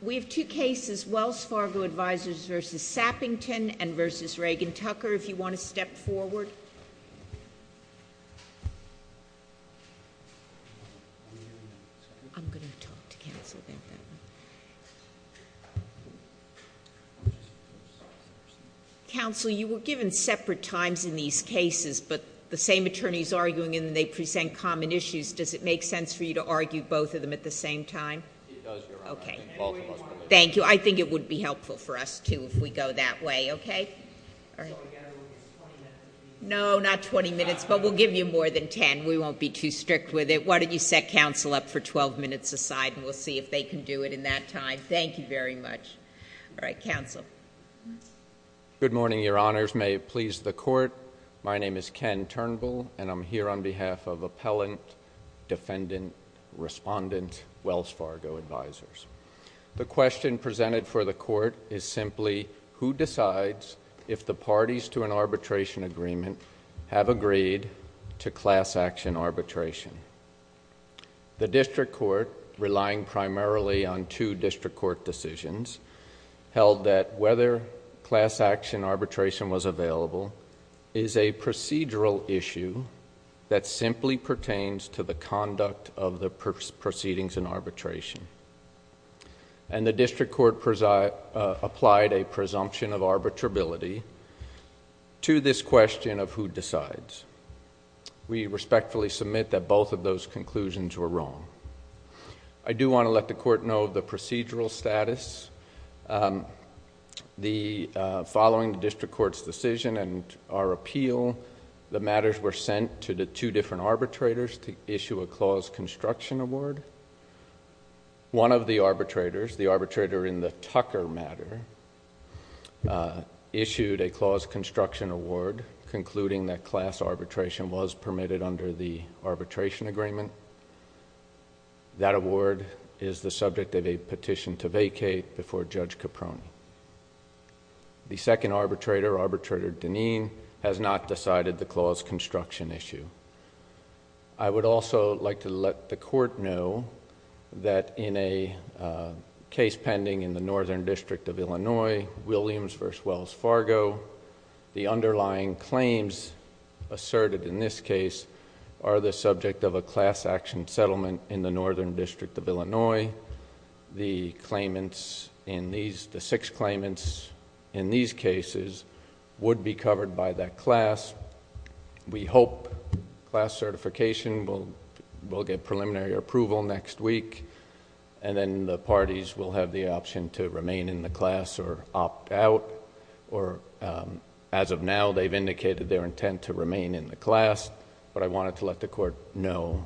We have two cases, Wells Fargo Advisors v. Sappington and v. Reagan-Tucker. If you want to step forward. I'm going to talk to counsel about that. Counsel, you were given separate times in these cases, but the same attorney's arguing and they present common issues. Does it make sense for you to argue both of them at the same time? It does, Your Honor, I think both of us believe that. Thank you. I think it would be helpful for us, too, if we go that way, okay? So we've got to look at 20 minutes. No, not 20 minutes, but we'll give you more than 10. We won't be too strict with it. Why don't you set counsel up for 12 minutes aside and we'll see if they can do it in that time. Thank you very much. All right, counsel. Good morning, Your Honors. May it please the court. My name is Ken Turnbull and I'm here on behalf of Appellant, Defendant, Respondent, Wells Fargo Advisors. The question presented for the court is simply, who decides if the parties to an arbitration agreement have agreed to class action arbitration? The district court, relying primarily on two district court decisions, held that whether class action arbitration was available is a procedural issue that simply pertains to the conduct of the proceedings in arbitration. And the district court applied a presumption of arbitrability to this question of who decides. We respectfully submit that both of those conclusions were wrong. I do want to let the court know of the procedural status. Following the district court's decision and our appeal, the matters were sent to the two different arbitrators to issue a clause construction award. One of the arbitrators, the arbitrator in the Tucker matter, issued a clause construction award concluding that class arbitration was permitted under the arbitration agreement. That award is the subject of a petition to vacate before Judge Caprone. The second arbitrator, Arbitrator Dineen, has not decided the clause construction issue. I would also like to let the court know that in a case pending in the Northern District of Illinois, Williams versus Wells Fargo, the underlying claims asserted in this case are the subject of a class action settlement in the Northern District of Illinois. The six claimants in these cases would be covered by that class. We hope class certification will get preliminary approval next week. And then the parties will have the option to remain in the class or opt out. Or as of now, they've indicated their intent to remain in the class. But I wanted to let the court know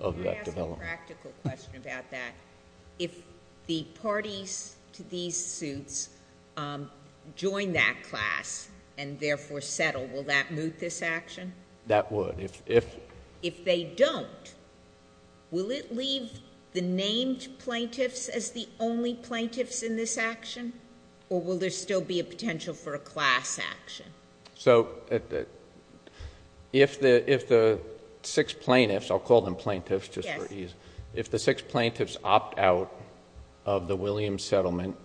of that development. I have a practical question about that. If the parties to these suits join that class and therefore settle, will that moot this action? That would. If they don't, will it leave the named plaintiffs as the only plaintiffs in this action? Or will there still be a potential for a class action? So if the six plaintiffs, I'll call them plaintiffs just for ease. If the six plaintiffs opt out of the Williams settlement,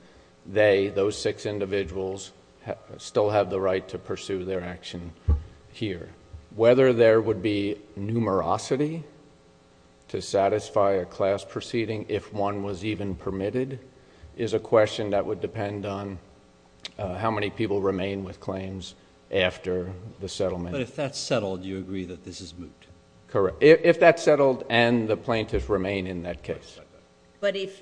they, those six individuals, still have the right to pursue their action here. Whether there would be numerosity to satisfy a class proceeding if one was even permitted is a question that would depend on how many people remain with claims after the settlement. But if that's settled, you agree that this is moot? Correct. If that's settled and the plaintiffs remain in that case. But if,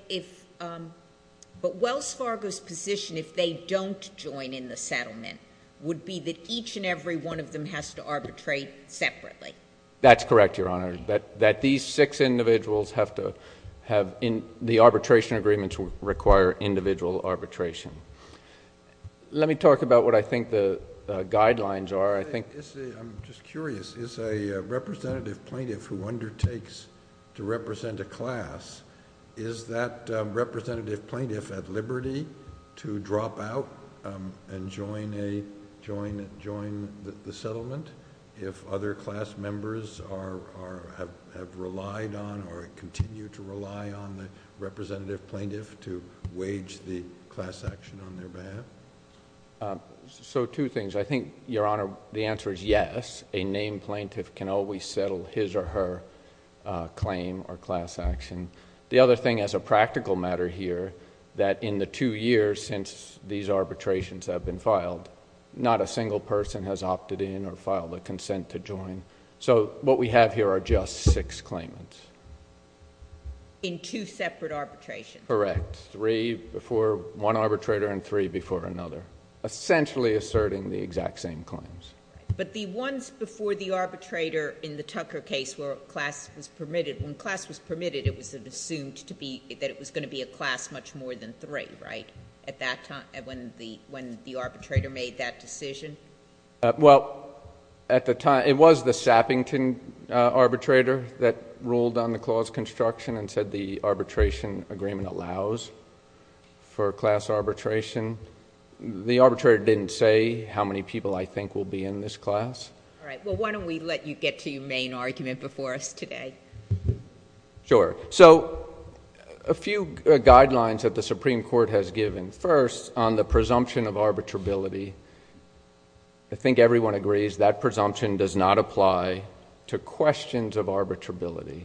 but Wells Fargo's position, if they don't join in the settlement, would be that each and every one of them has to arbitrate separately. That's correct, Your Honor. That these six individuals have to have, the arbitration agreements require individual arbitration. Let me talk about what I think the guidelines are. I think, I'm just curious. Is a representative plaintiff who undertakes to represent a class, is that representative plaintiff at liberty to drop out and join a, join the settlement? If other class members are, have relied on or continue to rely on the representative plaintiff to wage the class action on their behalf? So two things. I think, Your Honor, the answer is yes. A named plaintiff can always settle his or her claim or class action. The other thing as a practical matter here, that in the two years since these arbitrations have been filed, not a single person has opted in or filed a consent to join. So what we have here are just six claimants. In two separate arbitrations? Correct. Three before one arbitrator and three before another. Essentially asserting the exact same claims. But the ones before the arbitrator in the Tucker case where class was permitted, when class was permitted, it was assumed to be, that it was going to be a class much more than three, right? At that time, when the arbitrator made that decision? Well, at the time, it was the Sappington arbitrator that ruled on the clause construction and said the arbitration agreement allows for class arbitration. The arbitrator didn't say how many people I think will be in this class. All right. Well, why don't we let you get to your main argument before us today? Sure. So a few guidelines that the Supreme Court has given. First, on the presumption of arbitrability, I think everyone agrees that presumption does not apply to questions of arbitrability.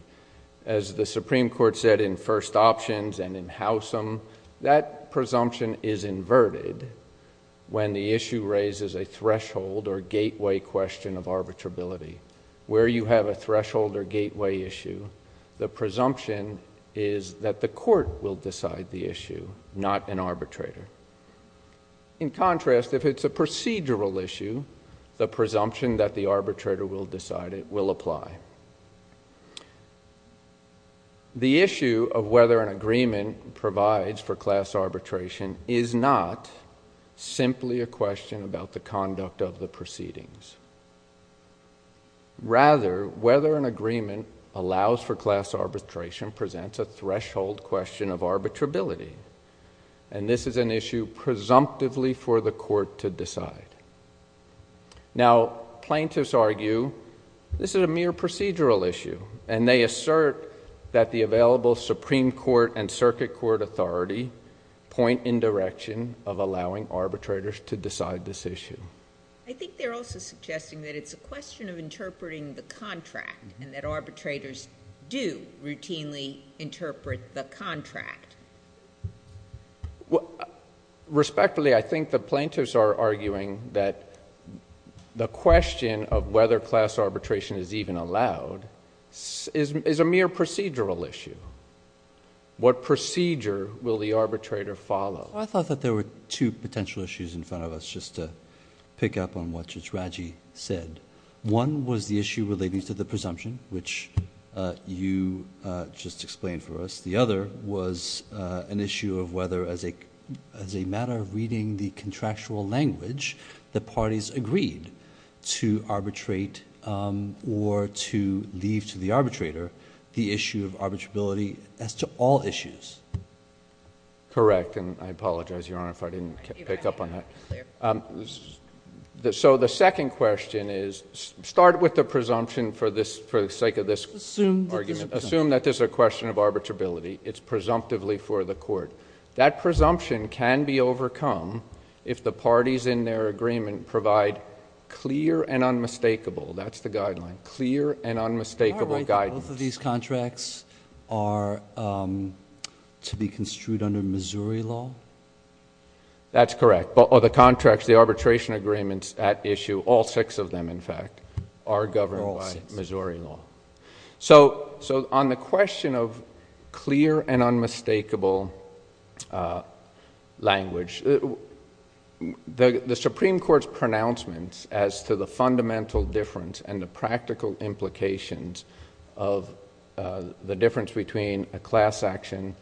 As the Supreme Court said in first options and in Howsam, that presumption is inverted when the issue raises a threshold or gateway question of arbitrability. Where you have a threshold or gateway issue, the presumption is that the court will decide the issue, not an arbitrator. In contrast, if it's a procedural issue, the presumption that the arbitrator will decide it will apply. The issue of whether an agreement provides for class arbitration is not simply a question about the conduct of the proceedings. Rather, whether an agreement allows for class arbitration presents a threshold question of arbitrability. And this is an issue presumptively for the court to decide. Now, plaintiffs argue this is a mere procedural issue. And they assert that the available Supreme Court and circuit court authority point in direction of allowing arbitrators to decide this issue. I think they're also suggesting that it's a question of interpreting the contract and that arbitrators do routinely interpret the contract. Respectfully, I think the plaintiffs are arguing that the question of whether class arbitration is even allowed is a mere procedural issue. What procedure will the arbitrator follow? I thought that there were two potential issues in front of us, just to pick up on what Judge Raji said. One was the issue relating to the presumption, which you just explained for us. The other was an issue of whether, as a matter of reading the contractual language, the parties agreed to arbitrate or to leave to the arbitrator the issue of arbitrability as to all issues. Correct, and I apologize, Your Honor, if I didn't pick up on that. So the second question is, start with the presumption for the sake of this argument. Assume that this is a question of arbitrability. It's presumptively for the court. That presumption can be overcome if the parties in their agreement provide clear and unmistakable. That's the guideline, clear and unmistakable guidance. Both of these contracts are to be construed under Missouri law? That's correct, but all the contracts, the arbitration agreements at issue, all six of them, in fact, are governed by Missouri law. So on the question of clear and unmistakable language, the Supreme Court's pronouncements as to the fundamental difference and the practical implications of the difference between a class action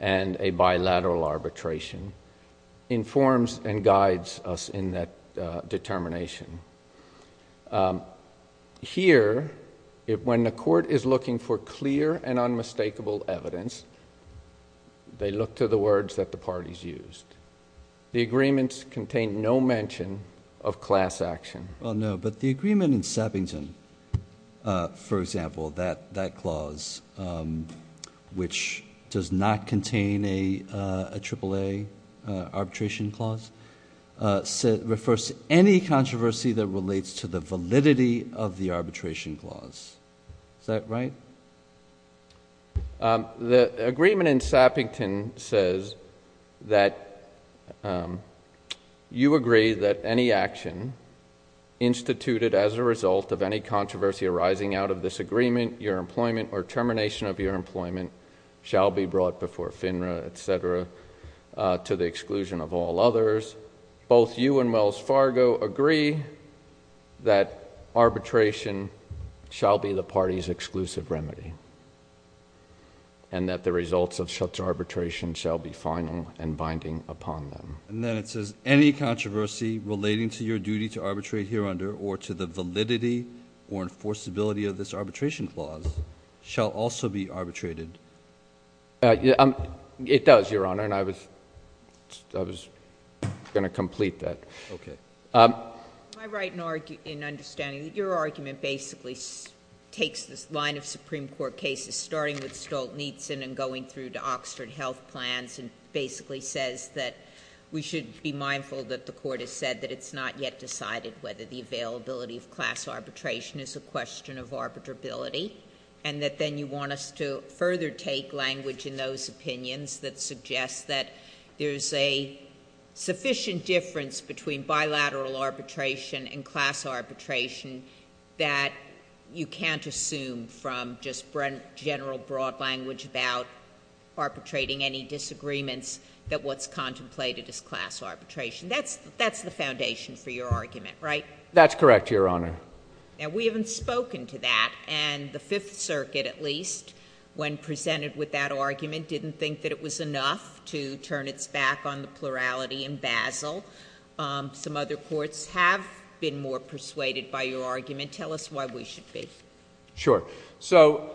and a bilateral arbitration informs and guides us in that determination. Here, when the court is looking for clear and unmistakable evidence, they look to the words that the parties used. The agreements contain no mention of class action. Well, no, but the agreement in Sappington, for example, that clause, which does not contain a AAA arbitration clause, refers to any controversy that relates to the validity of the arbitration clause. Is that right? The agreement in Sappington says that you agree that any action instituted as a result of any controversy arising out of this agreement, your employment, or termination of your employment, shall be brought before FINRA, etc., to the exclusion of all others, both you and Wells Fargo agree that arbitration shall be the party's exclusive remedy, and that the results of such arbitration shall be final and binding upon them. And then it says any controversy relating to your duty to arbitrate here under or to the validity or enforceability of this arbitration clause shall also be arbitrated. It does, Your Honor, and I was going to complete that. Okay. Am I right in understanding that your argument basically takes this line of Supreme Court cases, starting with Stolt-Nietsen and going through to Oxford Health Plans, and basically says that we should be mindful that the court has said that it's not yet decided whether the availability of class arbitration is a question of arbitrability. And that then you want us to further take language in those opinions that suggests that there's a sufficient difference between bilateral arbitration and class arbitration that you can't assume from just general broad language about arbitrating any disagreements that what's contemplated as class arbitration. That's the foundation for your argument, right? That's correct, Your Honor. Now, we haven't spoken to that, and the Fifth Circuit, at least, when presented with that argument, didn't think that it was enough to turn its back on the plurality in Basel. Some other courts have been more persuaded by your argument. Tell us why we should be. Sure. So,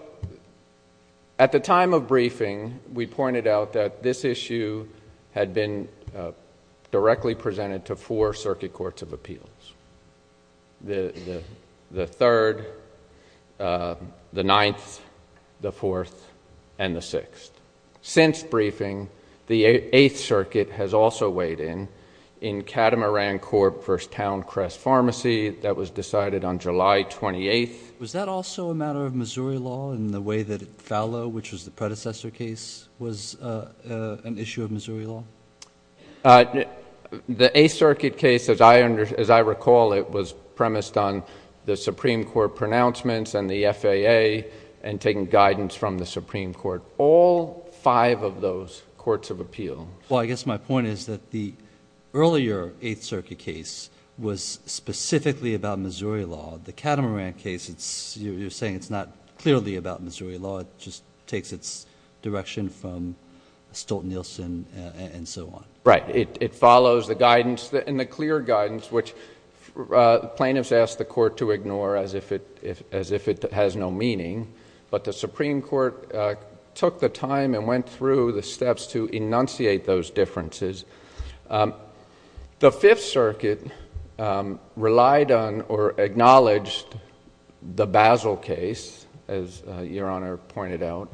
at the time of briefing, we pointed out that this issue had been directly presented to four circuit courts of appeals. The third, the ninth, the fourth, and the sixth. Since briefing, the Eighth Circuit has also weighed in, in Catamaran Corp versus Towncrest Pharmacy, that was decided on July 28th. Was that also a matter of Missouri law in the way that FALA, which was the predecessor case, was an issue of Missouri law? The Eighth Circuit case, as I recall, it was premised on the Supreme Court pronouncements and the FAA, and taking guidance from the Supreme Court. All five of those courts of appeal. Well, I guess my point is that the earlier Eighth Circuit case was specifically about Missouri law. The Catamaran case, you're saying it's not clearly about Missouri law. It just takes its direction from Stolt-Nielsen and so on. Right. It follows the guidance and the clear guidance, which plaintiffs ask the court to ignore as if it has no meaning. But the Supreme Court took the time and went through the steps to enunciate those differences. The Fifth Circuit relied on or acknowledged the Basil case, as Your Honor pointed out.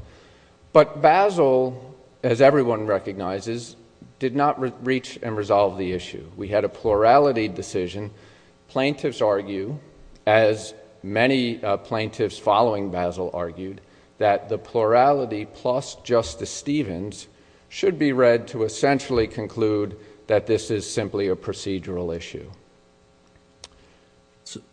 But Basil, as everyone recognizes, did not reach and resolve the issue. We had a plurality decision. Plaintiffs argue, as many plaintiffs following Basil argued, that the plurality plus Justice Stevens should be read to essentially conclude that this is simply a procedural issue.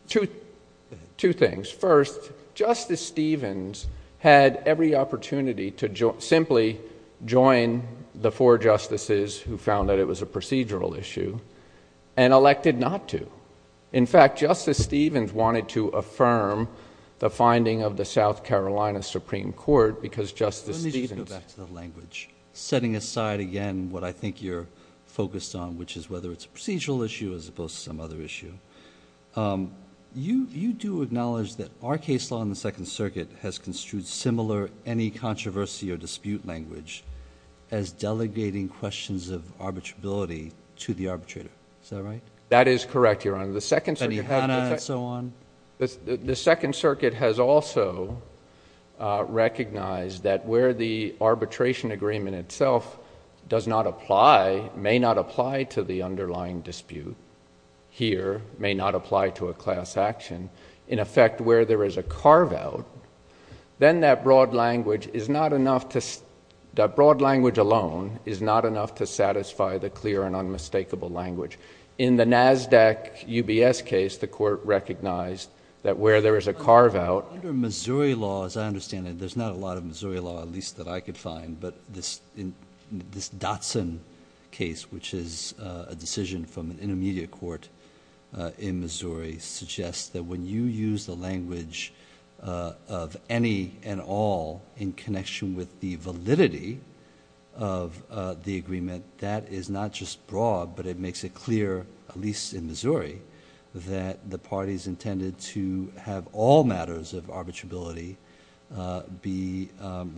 Two things. First, Justice Stevens had every opportunity to simply join the four justices who found that it was a procedural issue and elected not to. In fact, Justice Stevens wanted to affirm the finding of the South Carolina Supreme Court because Justice Stevens... Let me just go back to the language, setting aside again what I think you're focused on, which is whether it's a procedural issue as opposed to some other issue. You do acknowledge that our case law in the Second Circuit has construed similar, any controversy or dispute language as delegating questions of arbitrability to the arbitrator. Is that right? That is correct, Your Honor. The Second Circuit... Any Hannah and so on? The Second Circuit has also recognized that where the arbitration agreement itself does not apply, may not apply to the underlying dispute here, may not apply to a class action. In effect, where there is a carve-out, then that broad language is not enough to... that broad language alone is not enough to satisfy the clear and unmistakable language. In the NASDAQ UBS case, the court recognized that where there is a carve-out... Under Missouri law, as I understand it, there's not a lot of Missouri law, at least that I could find, but this Dotson case, which is a decision from an intermediate court in Missouri, suggests that when you use the language of any and all in connection with the validity of the agreement, that is not just broad, but it makes it clear, at least in Missouri, that the parties intended to have all matters of arbitrability be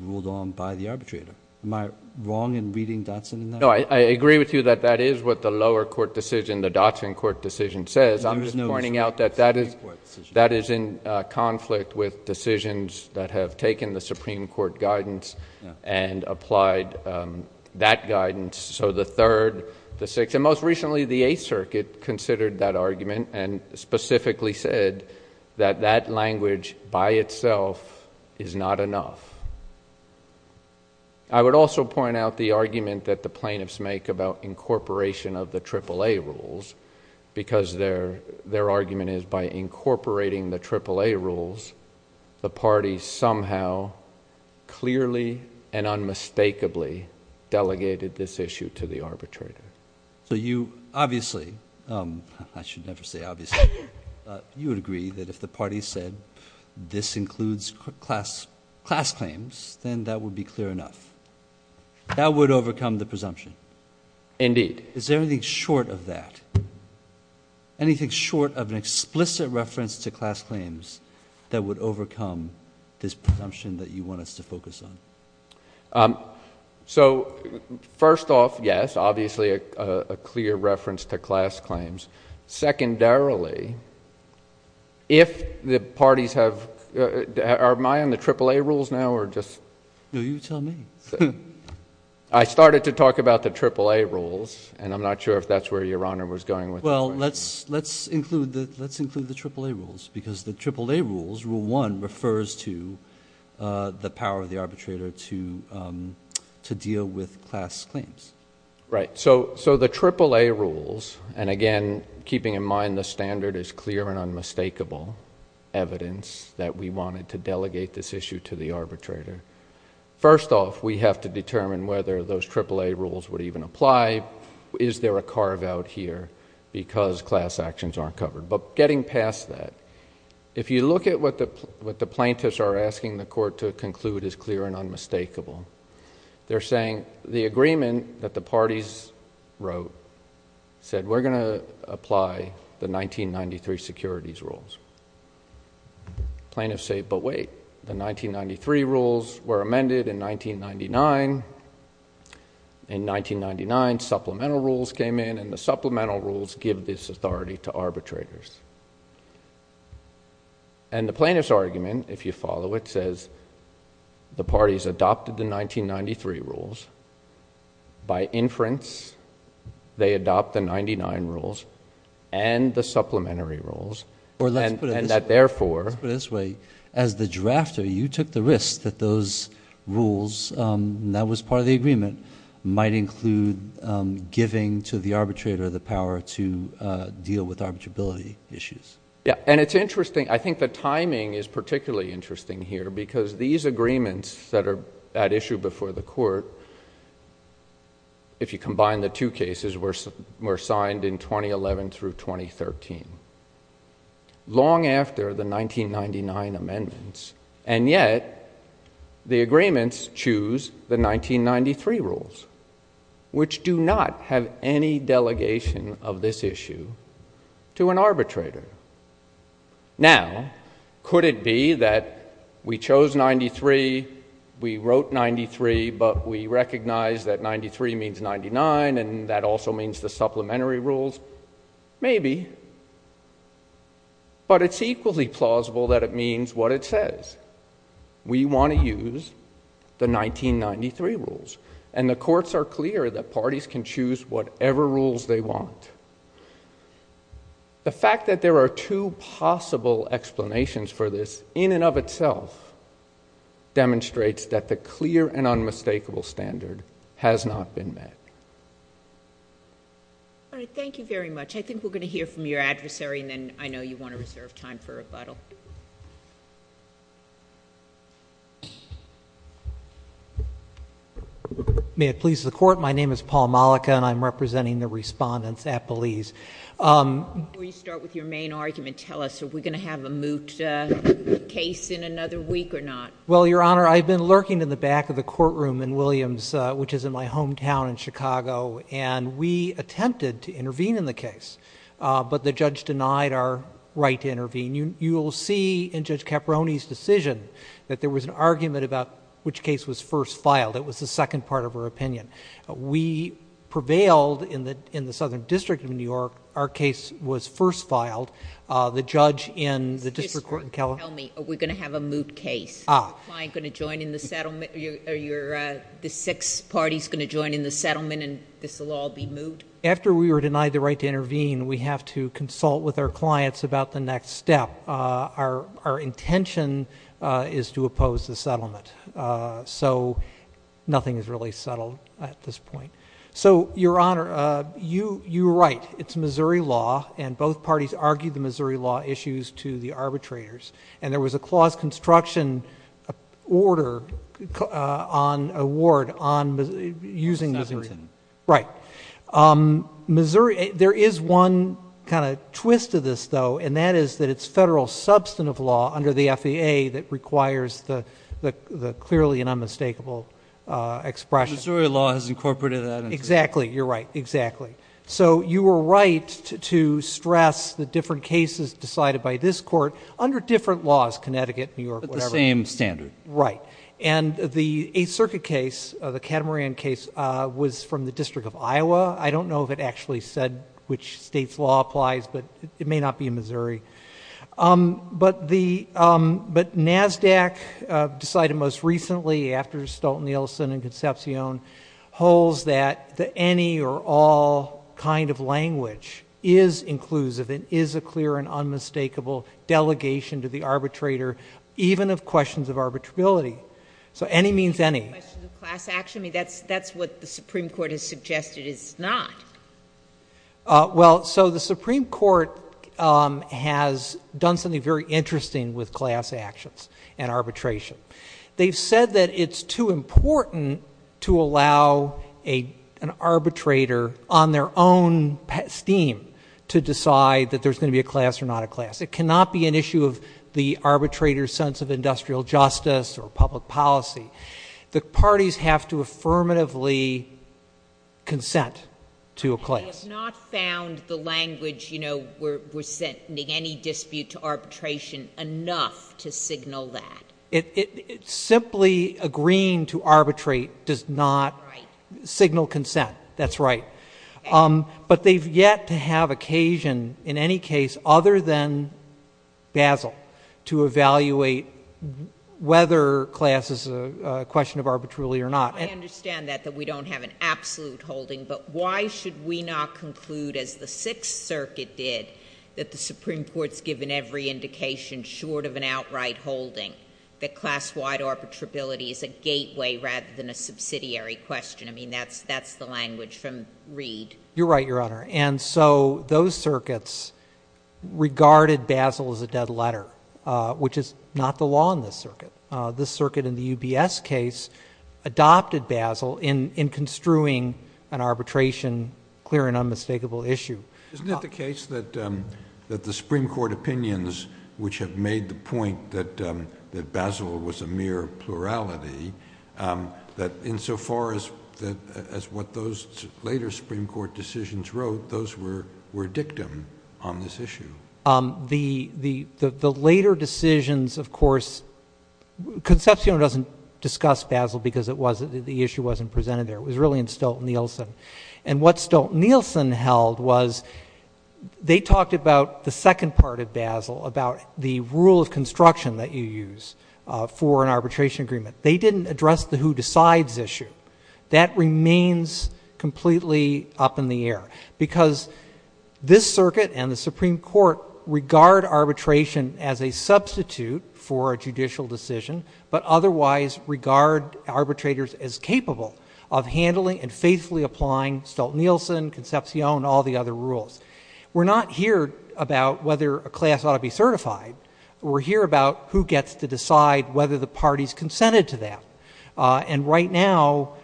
ruled on by the arbitrator. Am I wrong in reading Dotson in that way? No, I agree with you that that is what the lower court decision, the Dotson court decision says. I'm just pointing out that that is in conflict with decisions that have taken the Supreme Court guidance and applied that guidance, so the Third, the Sixth, and most recently the Eighth Circuit considered that argument and specifically said that that language by itself is not enough. I would also point out the argument that the plaintiffs make about incorporation of the AAA rules because their argument is by incorporating the AAA rules, the party somehow clearly and unmistakably delegated this issue to the arbitrator. So you obviously, I should never say obviously, you would agree that if the party said this includes class claims, then that would be clear enough. That would overcome the presumption. Indeed. Is there anything short of that, anything short of an explicit reference to class claims that would overcome this presumption that you want us to focus on? So first off, yes, obviously a clear reference to class claims. Secondarily, if the parties have, are my on the AAA rules now or just? No, you tell me. I started to talk about the AAA rules and I'm not sure if that's where Your Honor was going with it. Well, let's include the AAA rules because the AAA rules, rule one, refers to the power of the arbitrator to deal with class claims. Right. So the AAA rules, and again, keeping in mind the standard is clear and unmistakable evidence that we wanted to delegate this issue to the arbitrator. First off, we have to determine whether those AAA rules would even apply. Is there a carve out here because class actions aren't covered? But getting past that, if you look at what the plaintiffs are asking the court to conclude is clear and unmistakable, they're saying the agreement that the parties wrote said we're going to apply the 1993 securities rules. Plaintiffs say, but wait, the 1993 rules were amended in 1999. In 1999, supplemental rules came in and the supplemental rules give this authority to arbitrators. And the plaintiff's argument, if you follow it, says the parties adopted the 1993 rules. By inference, they adopt the 99 rules and the supplementary rules. And that therefore... Let's put it this way. As the drafter, you took the risk that those rules that was part of the agreement might include giving to the arbitrator the power to deal with arbitrability issues. Yeah. And it's interesting. I think the timing is particularly interesting here because these agreements that are at issue before the court, if you combine the two cases, were signed in 2011 through 2013, long after the 1999 amendments. And yet, the agreements choose the 1993 rules, which do not have any delegation of this issue to an arbitrator. Now, could it be that we chose 93, we wrote 93, but we recognize that 93 means 99 and that also means the supplementary rules? Maybe. But it's equally plausible that it means what it says. We want to use the 1993 rules. And the courts are clear that parties can choose whatever rules they want. The fact that there are two possible explanations for this, in and of itself, demonstrates that the clear and unmistakable standard has not been met. All right. Thank you very much. I think we're going to hear from your adversary, and then I know you want to reserve time for rebuttal. May it please the Court. My name is Paul Mollica, and I'm representing the respondents at Belize. Before you start with your main argument, tell us, are we going to have a moot case in another week or not? Well, Your Honor, I've been lurking in the back of the courtroom in Williams, which is in my hometown in Chicago, and we attempted to intervene in the case, but the judge denied our right to intervene. You will see in Judge Caproni's decision that there was an argument about which case was first filed. It was the second part of her opinion. We prevailed in the Southern District of New York. Our case was first filed. The judge in the District Court in Kelowna. Tell me, are we going to have a moot case? Is the client going to join in the settlement? Are the six parties going to join in the settlement, and this will all be moot? After we were denied the right to intervene, we have to consult with our clients about the next step. Our intention is to oppose the settlement. So nothing is really settled at this point. So, Your Honor, you were right. It's Missouri law, and both parties argued the Missouri law issues to the arbitrators, and there was a clause construction order on a ward using Missington. Right. Missouri, there is one kind of twist to this, though, and that is that it's federal substantive law under the FAA that requires the clearly and unmistakable expression. Missouri law has incorporated that. Exactly. You're right. Exactly. So you were right to stress the different cases decided by this court under different laws, Connecticut, New York, whatever. But the same standard. Right. And the Eighth Circuit case, the Catamaran case, was from the District of Iowa. I don't know if it actually said which state's law applies, but it may not be in Missouri. But NASDAQ decided most recently, after Stolten-Nielsen and Concepcion, holds that the any or all kind of language is inclusive and is a clear and unmistakable delegation to the arbitrator, even of questions of arbitrability. So any means any. Any questions of class action? I mean, that's what the Supreme Court has suggested is not. Well, so the Supreme Court has done something very interesting with class actions and arbitration. They've said that it's too important to allow an arbitrator, on their own esteem, to decide that there's going to be a class or not a class. It cannot be an issue of the arbitrator's sense of industrial justice or public policy. The parties have to affirmatively consent to a class. They have not found the language, you know, we're sending any dispute to arbitration, enough to signal that. Simply agreeing to arbitrate does not signal consent. That's right. But they've yet to have occasion, in any case other than Basel, to evaluate whether class is a question of arbitrarily or not. I understand that, that we don't have an absolute holding. But why should we not conclude, as the Sixth Circuit did, that the Supreme Court's given every indication short of an outright holding, that class-wide arbitrability is a gateway rather than a subsidiary question? I mean, that's the language from Reid. You're right, Your Honor. And so those circuits regarded Basel as a dead letter, which is not the law in this circuit. This circuit in the UBS case adopted Basel in construing an arbitration, clear and unmistakable issue. Isn't it the case that the Supreme Court opinions, which have made the point that Basel was a mere plurality, that insofar as what those later Supreme Court decisions wrote, those were dictum on this issue? The later decisions, of course, Concepcion doesn't discuss Basel because the issue wasn't presented there. It was really in Stolt-Nielsen. And what Stolt-Nielsen held was they talked about the second part of Basel, about the rule of construction that you use for an arbitration agreement. They didn't address the who decides issue. That remains completely up in the air because this circuit and the Supreme Court regard arbitration as a substitute for a judicial decision, but otherwise regard arbitrators as capable of handling and faithfully applying Stolt-Nielsen, Concepcion, all the other rules. We're not here about whether a class ought to be certified. We're here about who gets to decide whether the party's consented to that. And right now,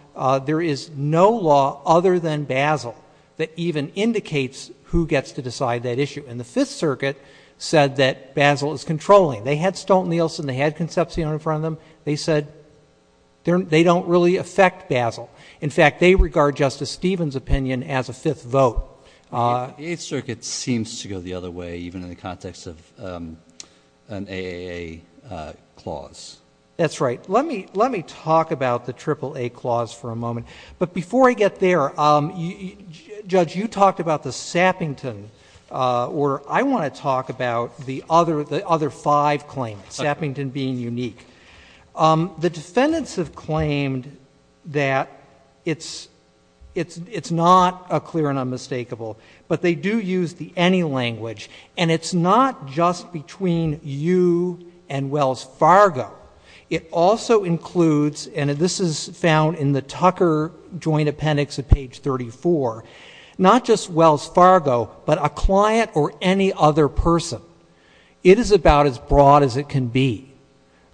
there is no law other than Basel that even indicates who gets to decide that issue. And the Fifth Circuit said that Basel is controlling. They had Stolt-Nielsen. They had Concepcion in front of them. They said they don't really affect Basel. In fact, they regard Justice Stevens' opinion as a fifth vote. The Eighth Circuit seems to go the other way, even in the context of an AAA clause. That's right. Let me talk about the AAA clause for a moment. But before I get there, Judge, you talked about the Sappington order. I want to talk about the other five claims, Sappington being unique. The defendants have claimed that it's not a clear and unmistakable, but they do use the any language, and it's not just between you and Wells Fargo. It also includes, and this is found in the Tucker Joint Appendix at page 34, not just Wells Fargo, but a client or any other person. It is about as broad as it can be.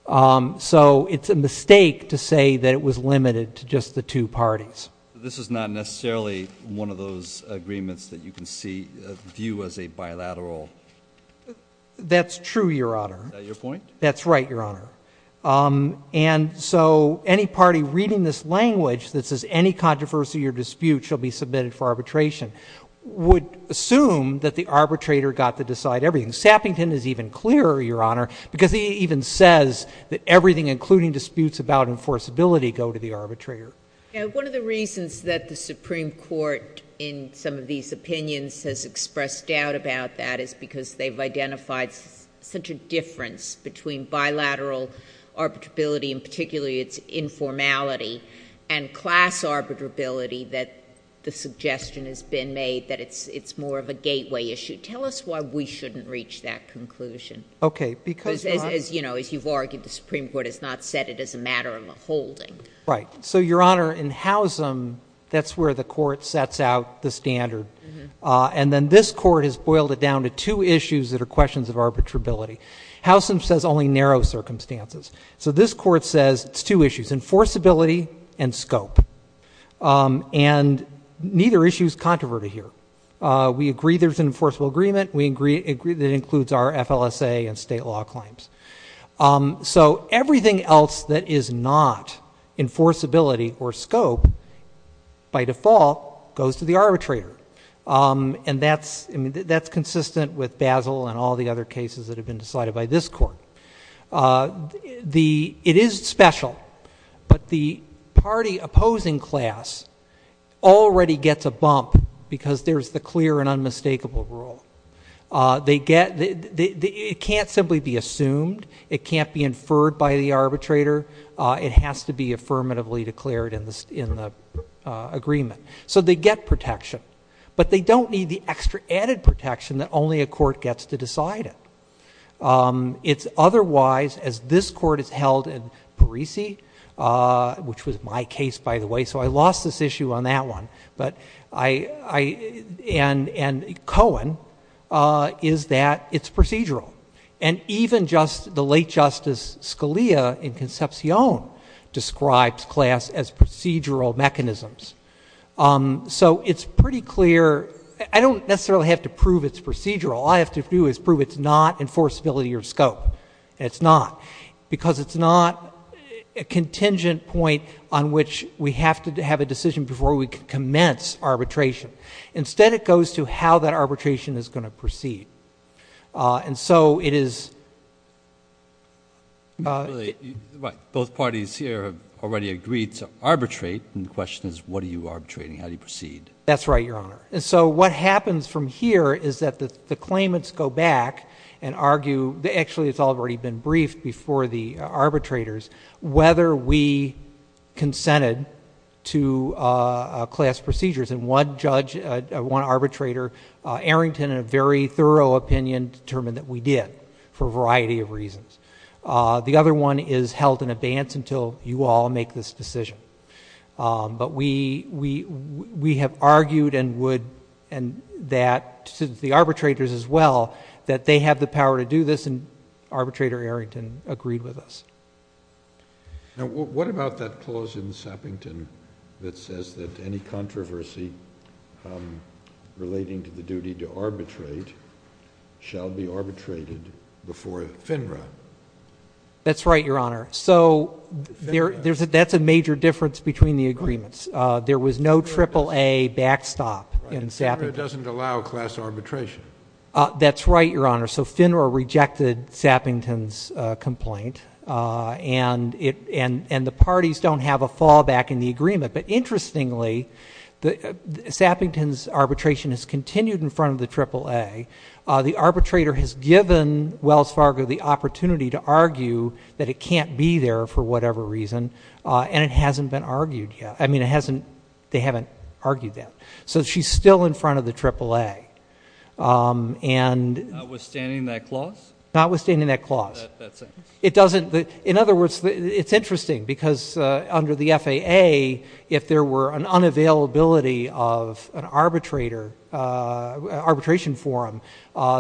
So it's a mistake to say that it was limited to just the two parties. This is not necessarily one of those agreements that you can view as a bilateral. That's true, Your Honor. Is that your point? That's right, Your Honor. And so any party reading this language that says any controversy or dispute shall be submitted for arbitration would assume that the arbitrator got to decide everything. Sappington is even clearer, Your Honor, because it even says that everything including disputes about enforceability go to the arbitrator. One of the reasons that the Supreme Court in some of these opinions has expressed doubt about that is because they've identified such a difference between bilateral arbitrability, and particularly its informality, and class arbitrability that the suggestion has been made that it's more of a gateway issue. Tell us why we shouldn't reach that conclusion. Okay. Because as you've argued, the Supreme Court has not set it as a matter of a holding. Right. So, Your Honor, in Howsam, that's where the court sets out the standard. And then this court has boiled it down to two issues that are questions of arbitrability. Howsam says only narrow circumstances. So this court says it's two issues, enforceability and scope. And neither issue is controverted here. We agree there's an enforceable agreement. We agree that it includes our FLSA and state law claims. So everything else that is not enforceability or scope, by default, goes to the arbitrator. And that's consistent with Basil and all the other cases that have been decided by this court. It is special. But the party opposing class already gets a bump because there's the clear and unmistakable rule. It can't simply be assumed. It can't be inferred by the arbitrator. It has to be affirmatively declared in the agreement. So they get protection. But they don't need the extra added protection that only a court gets to decide it. It's otherwise, as this court has held in Parisi, which was my case, by the way, so I lost this issue on that one, and Cohen, is that it's procedural. And even just the late Justice Scalia in Concepcion describes class as procedural mechanisms. So it's pretty clear. I don't necessarily have to prove it's procedural. All I have to do is prove it's not enforceability or scope. It's not. Because it's not a contingent point on which we have to have a decision before we can commence arbitration. And so it is. Right. Both parties here have already agreed to arbitrate. And the question is what are you arbitrating? How do you proceed? That's right, Your Honor. And so what happens from here is that the claimants go back and argue. Actually, it's already been briefed before the arbitrators whether we consented to class procedures. And one judge, one arbitrator, Arrington, in a very thorough opinion, determined that we did for a variety of reasons. The other one is held in advance until you all make this decision. But we have argued and would and that the arbitrators as well, that they have the power to do this, and Arbitrator Arrington agreed with us. Now, what about that clause in Sappington that says that any controversy relating to the duty to arbitrate shall be arbitrated before FINRA? That's right, Your Honor. So that's a major difference between the agreements. There was no AAA backstop in Sappington. Right. And FINRA doesn't allow class arbitration. That's right, Your Honor. So FINRA rejected Sappington's complaint, and the parties don't have a fallback in the agreement. But interestingly, Sappington's arbitration has continued in front of the AAA. The arbitrator has given Wells Fargo the opportunity to argue that it can't be there for whatever reason, and it hasn't been argued yet. I mean, it hasn't they haven't argued that. So she's still in front of the AAA. Notwithstanding that clause? Notwithstanding that clause. In other words, it's interesting because under the FAA, if there were an unavailability of an arbitration forum,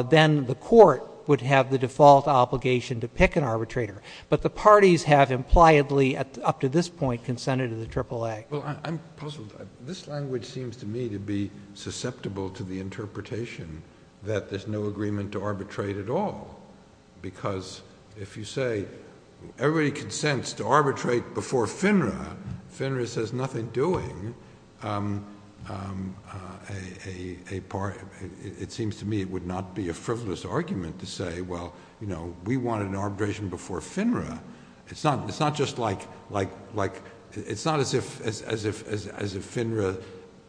then the court would have the default obligation to pick an arbitrator. But the parties have impliedly up to this point consented to the AAA. Well, I'm puzzled. This language seems to me to be susceptible to the interpretation that there's no agreement to arbitrate at all. Because if you say everybody consents to arbitrate before FINRA, FINRA says nothing doing. It seems to me it would not be a frivolous argument to say, well, you know, we wanted an arbitration before FINRA. It's not just like it's not as if FINRA.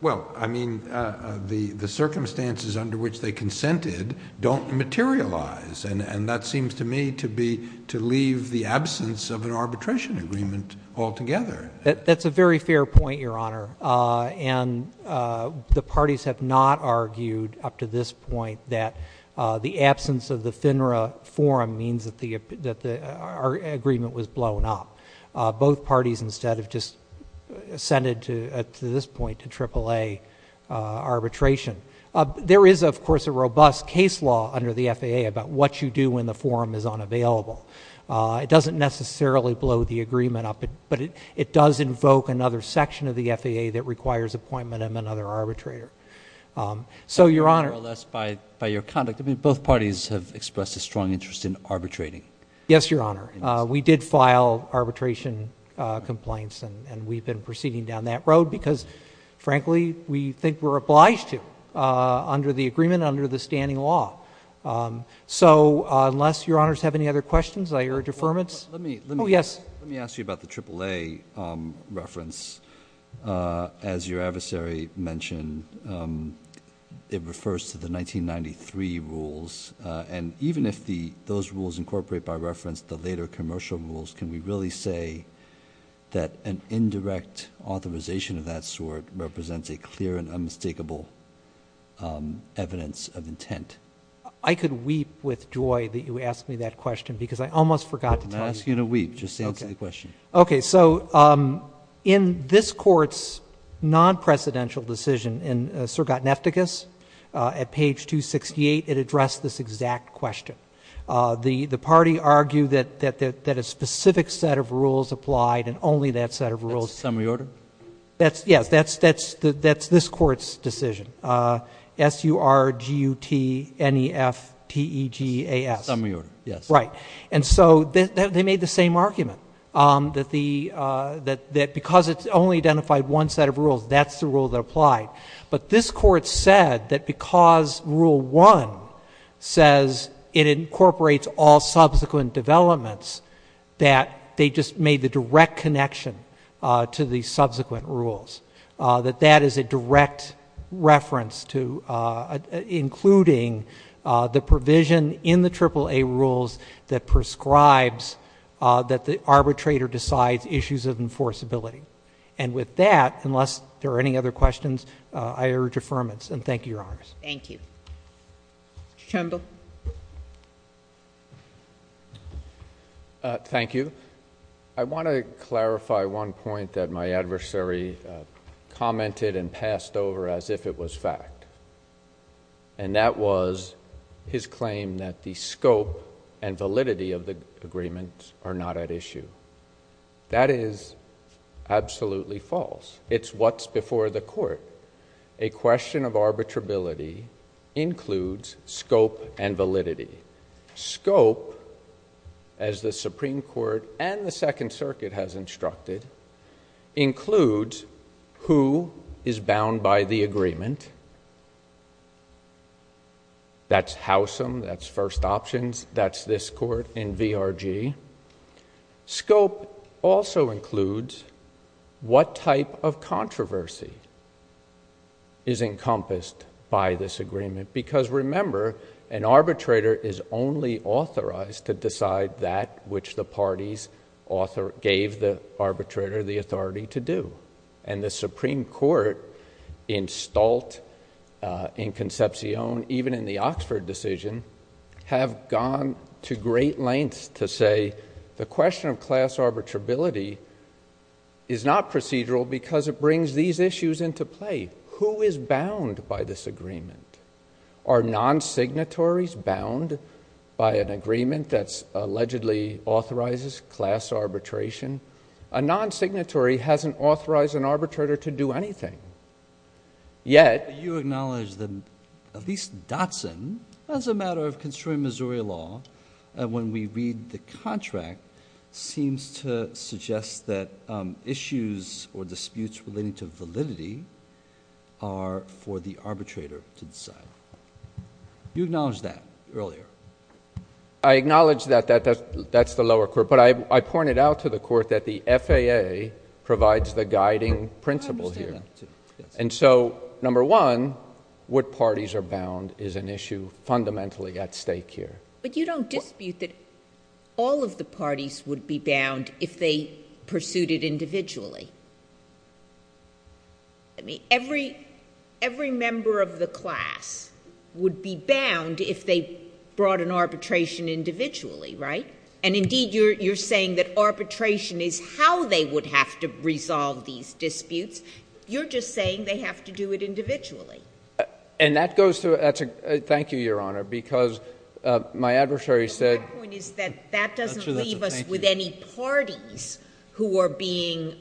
Well, I mean, the circumstances under which they consented don't materialize. And that seems to me to be to leave the absence of an arbitration agreement altogether. That's a very fair point, Your Honor. And the parties have not argued up to this point that the absence of the FINRA forum means that the agreement was blown up. Both parties instead have just assented to, at this point, to AAA arbitration. There is, of course, a robust case law under the FAA about what you do when the forum is unavailable. It doesn't necessarily blow the agreement up, but it does invoke another section of the FAA that requires appointment of another arbitrator. So, Your Honor. More or less by your conduct. I mean, both parties have expressed a strong interest in arbitrating. Yes, Your Honor. We did file arbitration complaints, and we've been proceeding down that road because, frankly, we think we're obliged to under the agreement, under the standing law. So, unless Your Honors have any other questions, I urge affirmance. Let me ask you about the AAA reference. As your adversary mentioned, it refers to the 1993 rules. And even if those rules incorporate by reference the later commercial rules, can we really say that an indirect authorization of that sort represents a clear and unmistakable evidence of intent? I could weep with joy that you asked me that question because I almost forgot to tell you. I'm not asking you to weep. Just answer the question. Okay. So, in this Court's non-precedential decision in Surgat Nefticus, at page 268, it addressed this exact question. The party argued that a specific set of rules applied and only that set of rules. That's the summary order? Yes, that's this Court's decision, S-U-R-G-U-T-N-E-F-T-E-G-A-S. Summary order, yes. Right. And so they made the same argument, that because it only identified one set of rules, that's the rule that applied. But this Court said that because Rule 1 says it incorporates all subsequent developments, that they just made the direct connection to the subsequent rules. That that is a direct reference to including the provision in the AAA rules that prescribes that the arbitrator decides issues of enforceability. And with that, unless there are any other questions, I urge affirmance. And thank you, Your Honor. Thank you. Mr. Chambl. Thank you. I want to clarify one point that my adversary commented and passed over as if it was fact. And that was his claim that the scope and validity of the agreement are not at issue. That is absolutely false. It's what's before the court. A question of arbitrability includes scope and validity. Scope, as the Supreme Court and the Second Circuit has instructed, includes who is bound by the agreement. That's Howsam, that's First Options, that's this Court in VRG. Scope also includes what type of controversy is encompassed by this agreement. Because remember, an arbitrator is only authorized to decide that which the parties gave the arbitrator the authority to do. And the Supreme Court, in Stolt, in Concepcion, even in the Oxford decision, have gone to great lengths to say the question of class arbitrability is not procedural because it brings these issues into play. Who is bound by this agreement? Are non-signatories bound by an agreement that's allegedly authorizes class arbitration? A non-signatory hasn't authorized an arbitrator to do anything. Yet, you acknowledge that at least Dotson, as a matter of constrained Missouri law, when we read the contract, seems to suggest that issues or disputes relating to validity are for the arbitrator to decide. You acknowledged that earlier. I acknowledge that that's the lower court. But I pointed out to the court that the FAA provides the guiding principle here. And so, number one, what parties are bound is an issue fundamentally at stake here. But you don't dispute that all of the parties would be bound if they pursued it individually. I mean, every member of the class would be bound if they brought an arbitration individually, right? And indeed, you're saying that arbitration is how they would have to resolve these disputes. You're just saying they have to do it individually. And that goes to – thank you, Your Honor, because my adversary said – My point is that that doesn't leave us with any parties who are being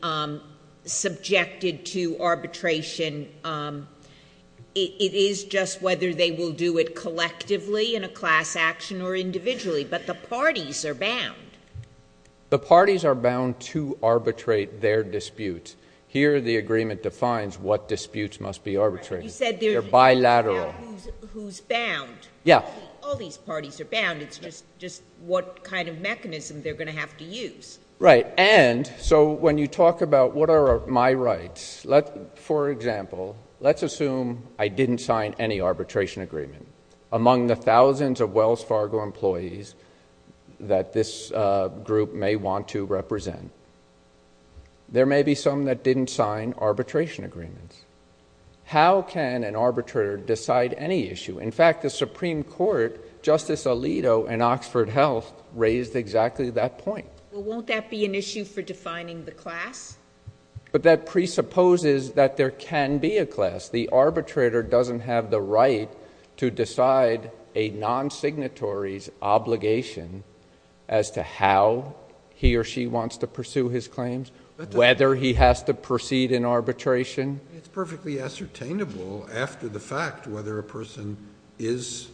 subjected to arbitration. It is just whether they will do it collectively in a class action or individually. But the parties are bound. The parties are bound to arbitrate their disputes. Here, the agreement defines what disputes must be arbitrated. You said there's – They're bilateral. Who's bound? Yeah. All these parties are bound. It's just what kind of mechanism they're going to have to use. Right. And so when you talk about what are my rights, for example, let's assume I didn't sign any arbitration agreement. Among the thousands of Wells Fargo employees that this group may want to represent, there may be some that didn't sign arbitration agreements. How can an arbitrator decide any issue? In fact, the Supreme Court, Justice Alito and Oxford Health raised exactly that point. Well, won't that be an issue for defining the class? But that presupposes that there can be a class. The arbitrator doesn't have the right to decide a non-signatory's obligation as to how he or she wants to pursue his claims, whether he has to proceed in arbitration. It's perfectly ascertainable after the fact whether a person is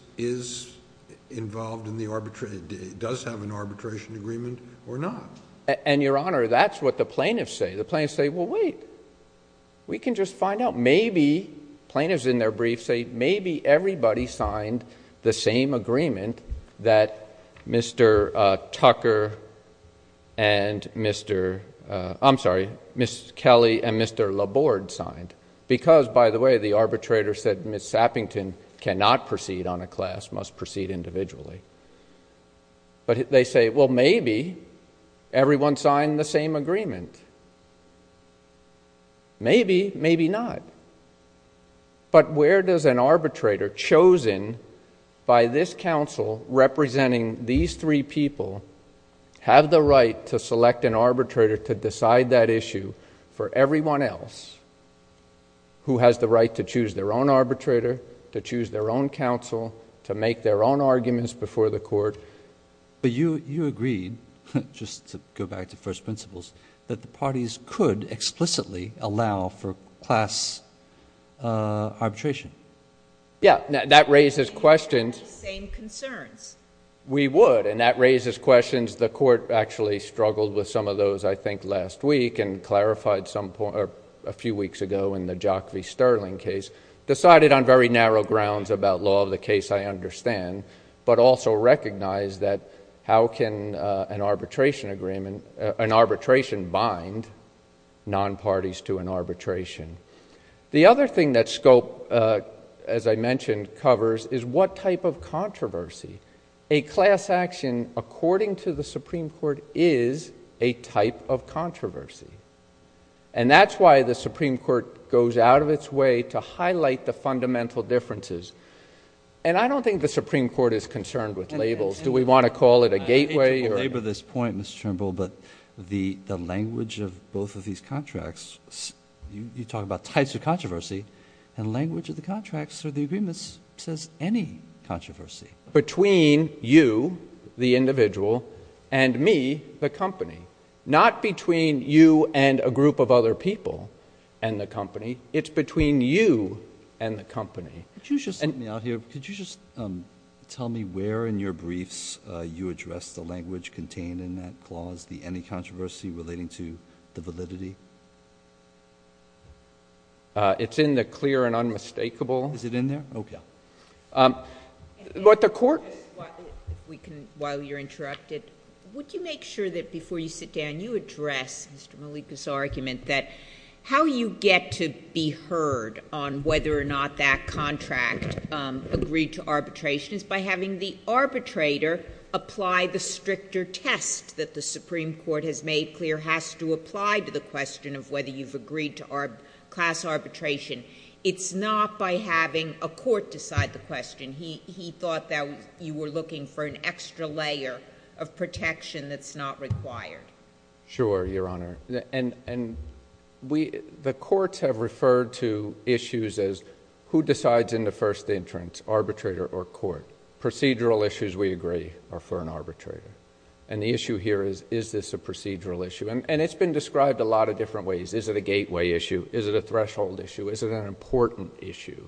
involved in the – does have an arbitration agreement or not. And, Your Honor, that's what the plaintiffs say. The plaintiffs say, well, wait. We can just find out. Plaintiffs in their brief say maybe everybody signed the same agreement that Mr. Tucker and Mr. – I'm sorry, Ms. Kelly and Mr. Laborde signed because, by the way, the arbitrator said Ms. Sappington cannot proceed on a class, must proceed individually. But they say, well, maybe everyone signed the same agreement. Maybe, maybe not. But where does an arbitrator chosen by this counsel representing these three people have the right to select an arbitrator to decide that issue for everyone else who has the right to choose their own arbitrator, to choose their own counsel, to make their own arguments before the court? But you agreed, just to go back to first principles, that the parties could explicitly allow for class arbitration. Yeah. That raises questions. Same concerns. We would, and that raises questions. The court actually struggled with some of those, I think, last week and clarified a few weeks ago in the Jock v. Sterling case. Decided on very narrow grounds about law of the case, I understand, but also recognize that how can an arbitration bind non-parties to an arbitration? The other thing that scope, as I mentioned, covers is what type of controversy. A class action, according to the Supreme Court, is a type of controversy. And that's why the Supreme Court goes out of its way to highlight the fundamental differences. And I don't think the Supreme Court is concerned with labels. Do we want to call it a gateway? I hate to belabor this point, Mr. Turnbull, but the language of both of these contracts, you talk about types of controversy, and language of the contracts of the agreements says any controversy. Between you, the individual, and me, the company. Not between you and a group of other people and the company, it's between you and the company. Could you just let me out here, could you just tell me where in your briefs you address the language contained in that clause, the any controversy relating to the validity? It's in the clear and unmistakable. Is it in there? Okay. But the court— While you're interrupted, would you make sure that before you sit down, you address Mr. Malika's argument that how you get to be heard on whether or not that contract agreed to arbitration is by having the arbitrator apply the stricter test that the Supreme Court has made clear has to apply to the question of whether you've agreed to class arbitration. It's not by having a court decide the question. He thought that you were looking for an extra layer of protection that's not required. Sure, Your Honor. The courts have referred to issues as who decides in the first entrance, arbitrator or court. Procedural issues, we agree, are for an arbitrator. The issue here is, is this a procedural issue? It's been described a lot of different ways. Is it a gateway issue? Is it a threshold issue? Is it an important issue?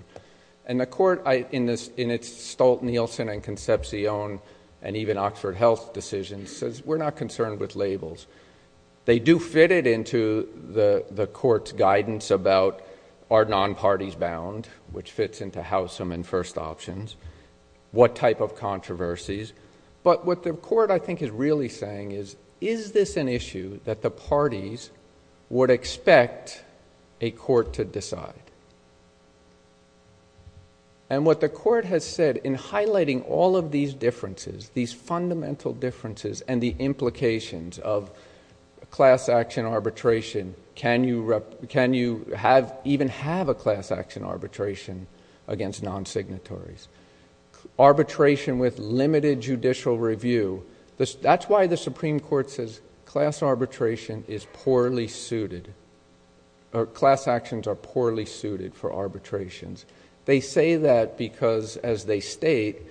And the court, in its Stolt-Nielsen and Concepcion and even Oxford Health decisions, says we're not concerned with labels. They do fit it into the court's guidance about are non-parties bound, which fits into Howsam and first options, what type of controversies. But what the court, I think, is really saying is, is this an issue that the parties would expect a court to decide? And what the court has said in highlighting all of these differences, these fundamental differences and the implications of class action arbitration, can you even have a class action arbitration against non-signatories? Arbitration with limited judicial review. That's why the Supreme Court says class arbitration is poorly suited, or class actions are poorly suited for arbitrations. They say that because, as they state,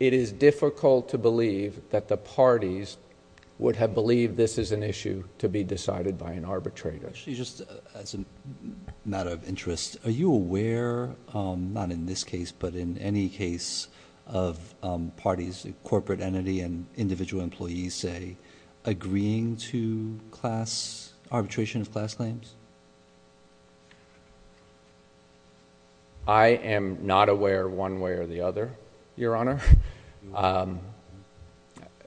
it is difficult to believe that the parties would have believed this is an issue to be decided by an arbitrator. Actually, just as a matter of interest, are you aware, not in this case, but in any case, of parties, corporate entity and individual employees, say, agreeing to arbitration of class claims? I am not aware one way or the other, Your Honor.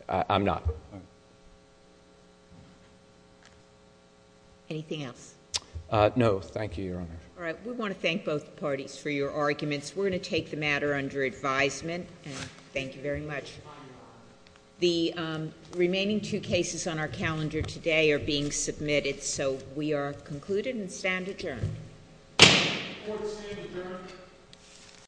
I'm not. Anything else? No, thank you, Your Honor. All right. We want to thank both parties for your arguments. We're going to take the matter under advisement. Thank you very much. The remaining two cases on our calendar today are being submitted, so we are concluded and stand adjourned. Court is adjourned.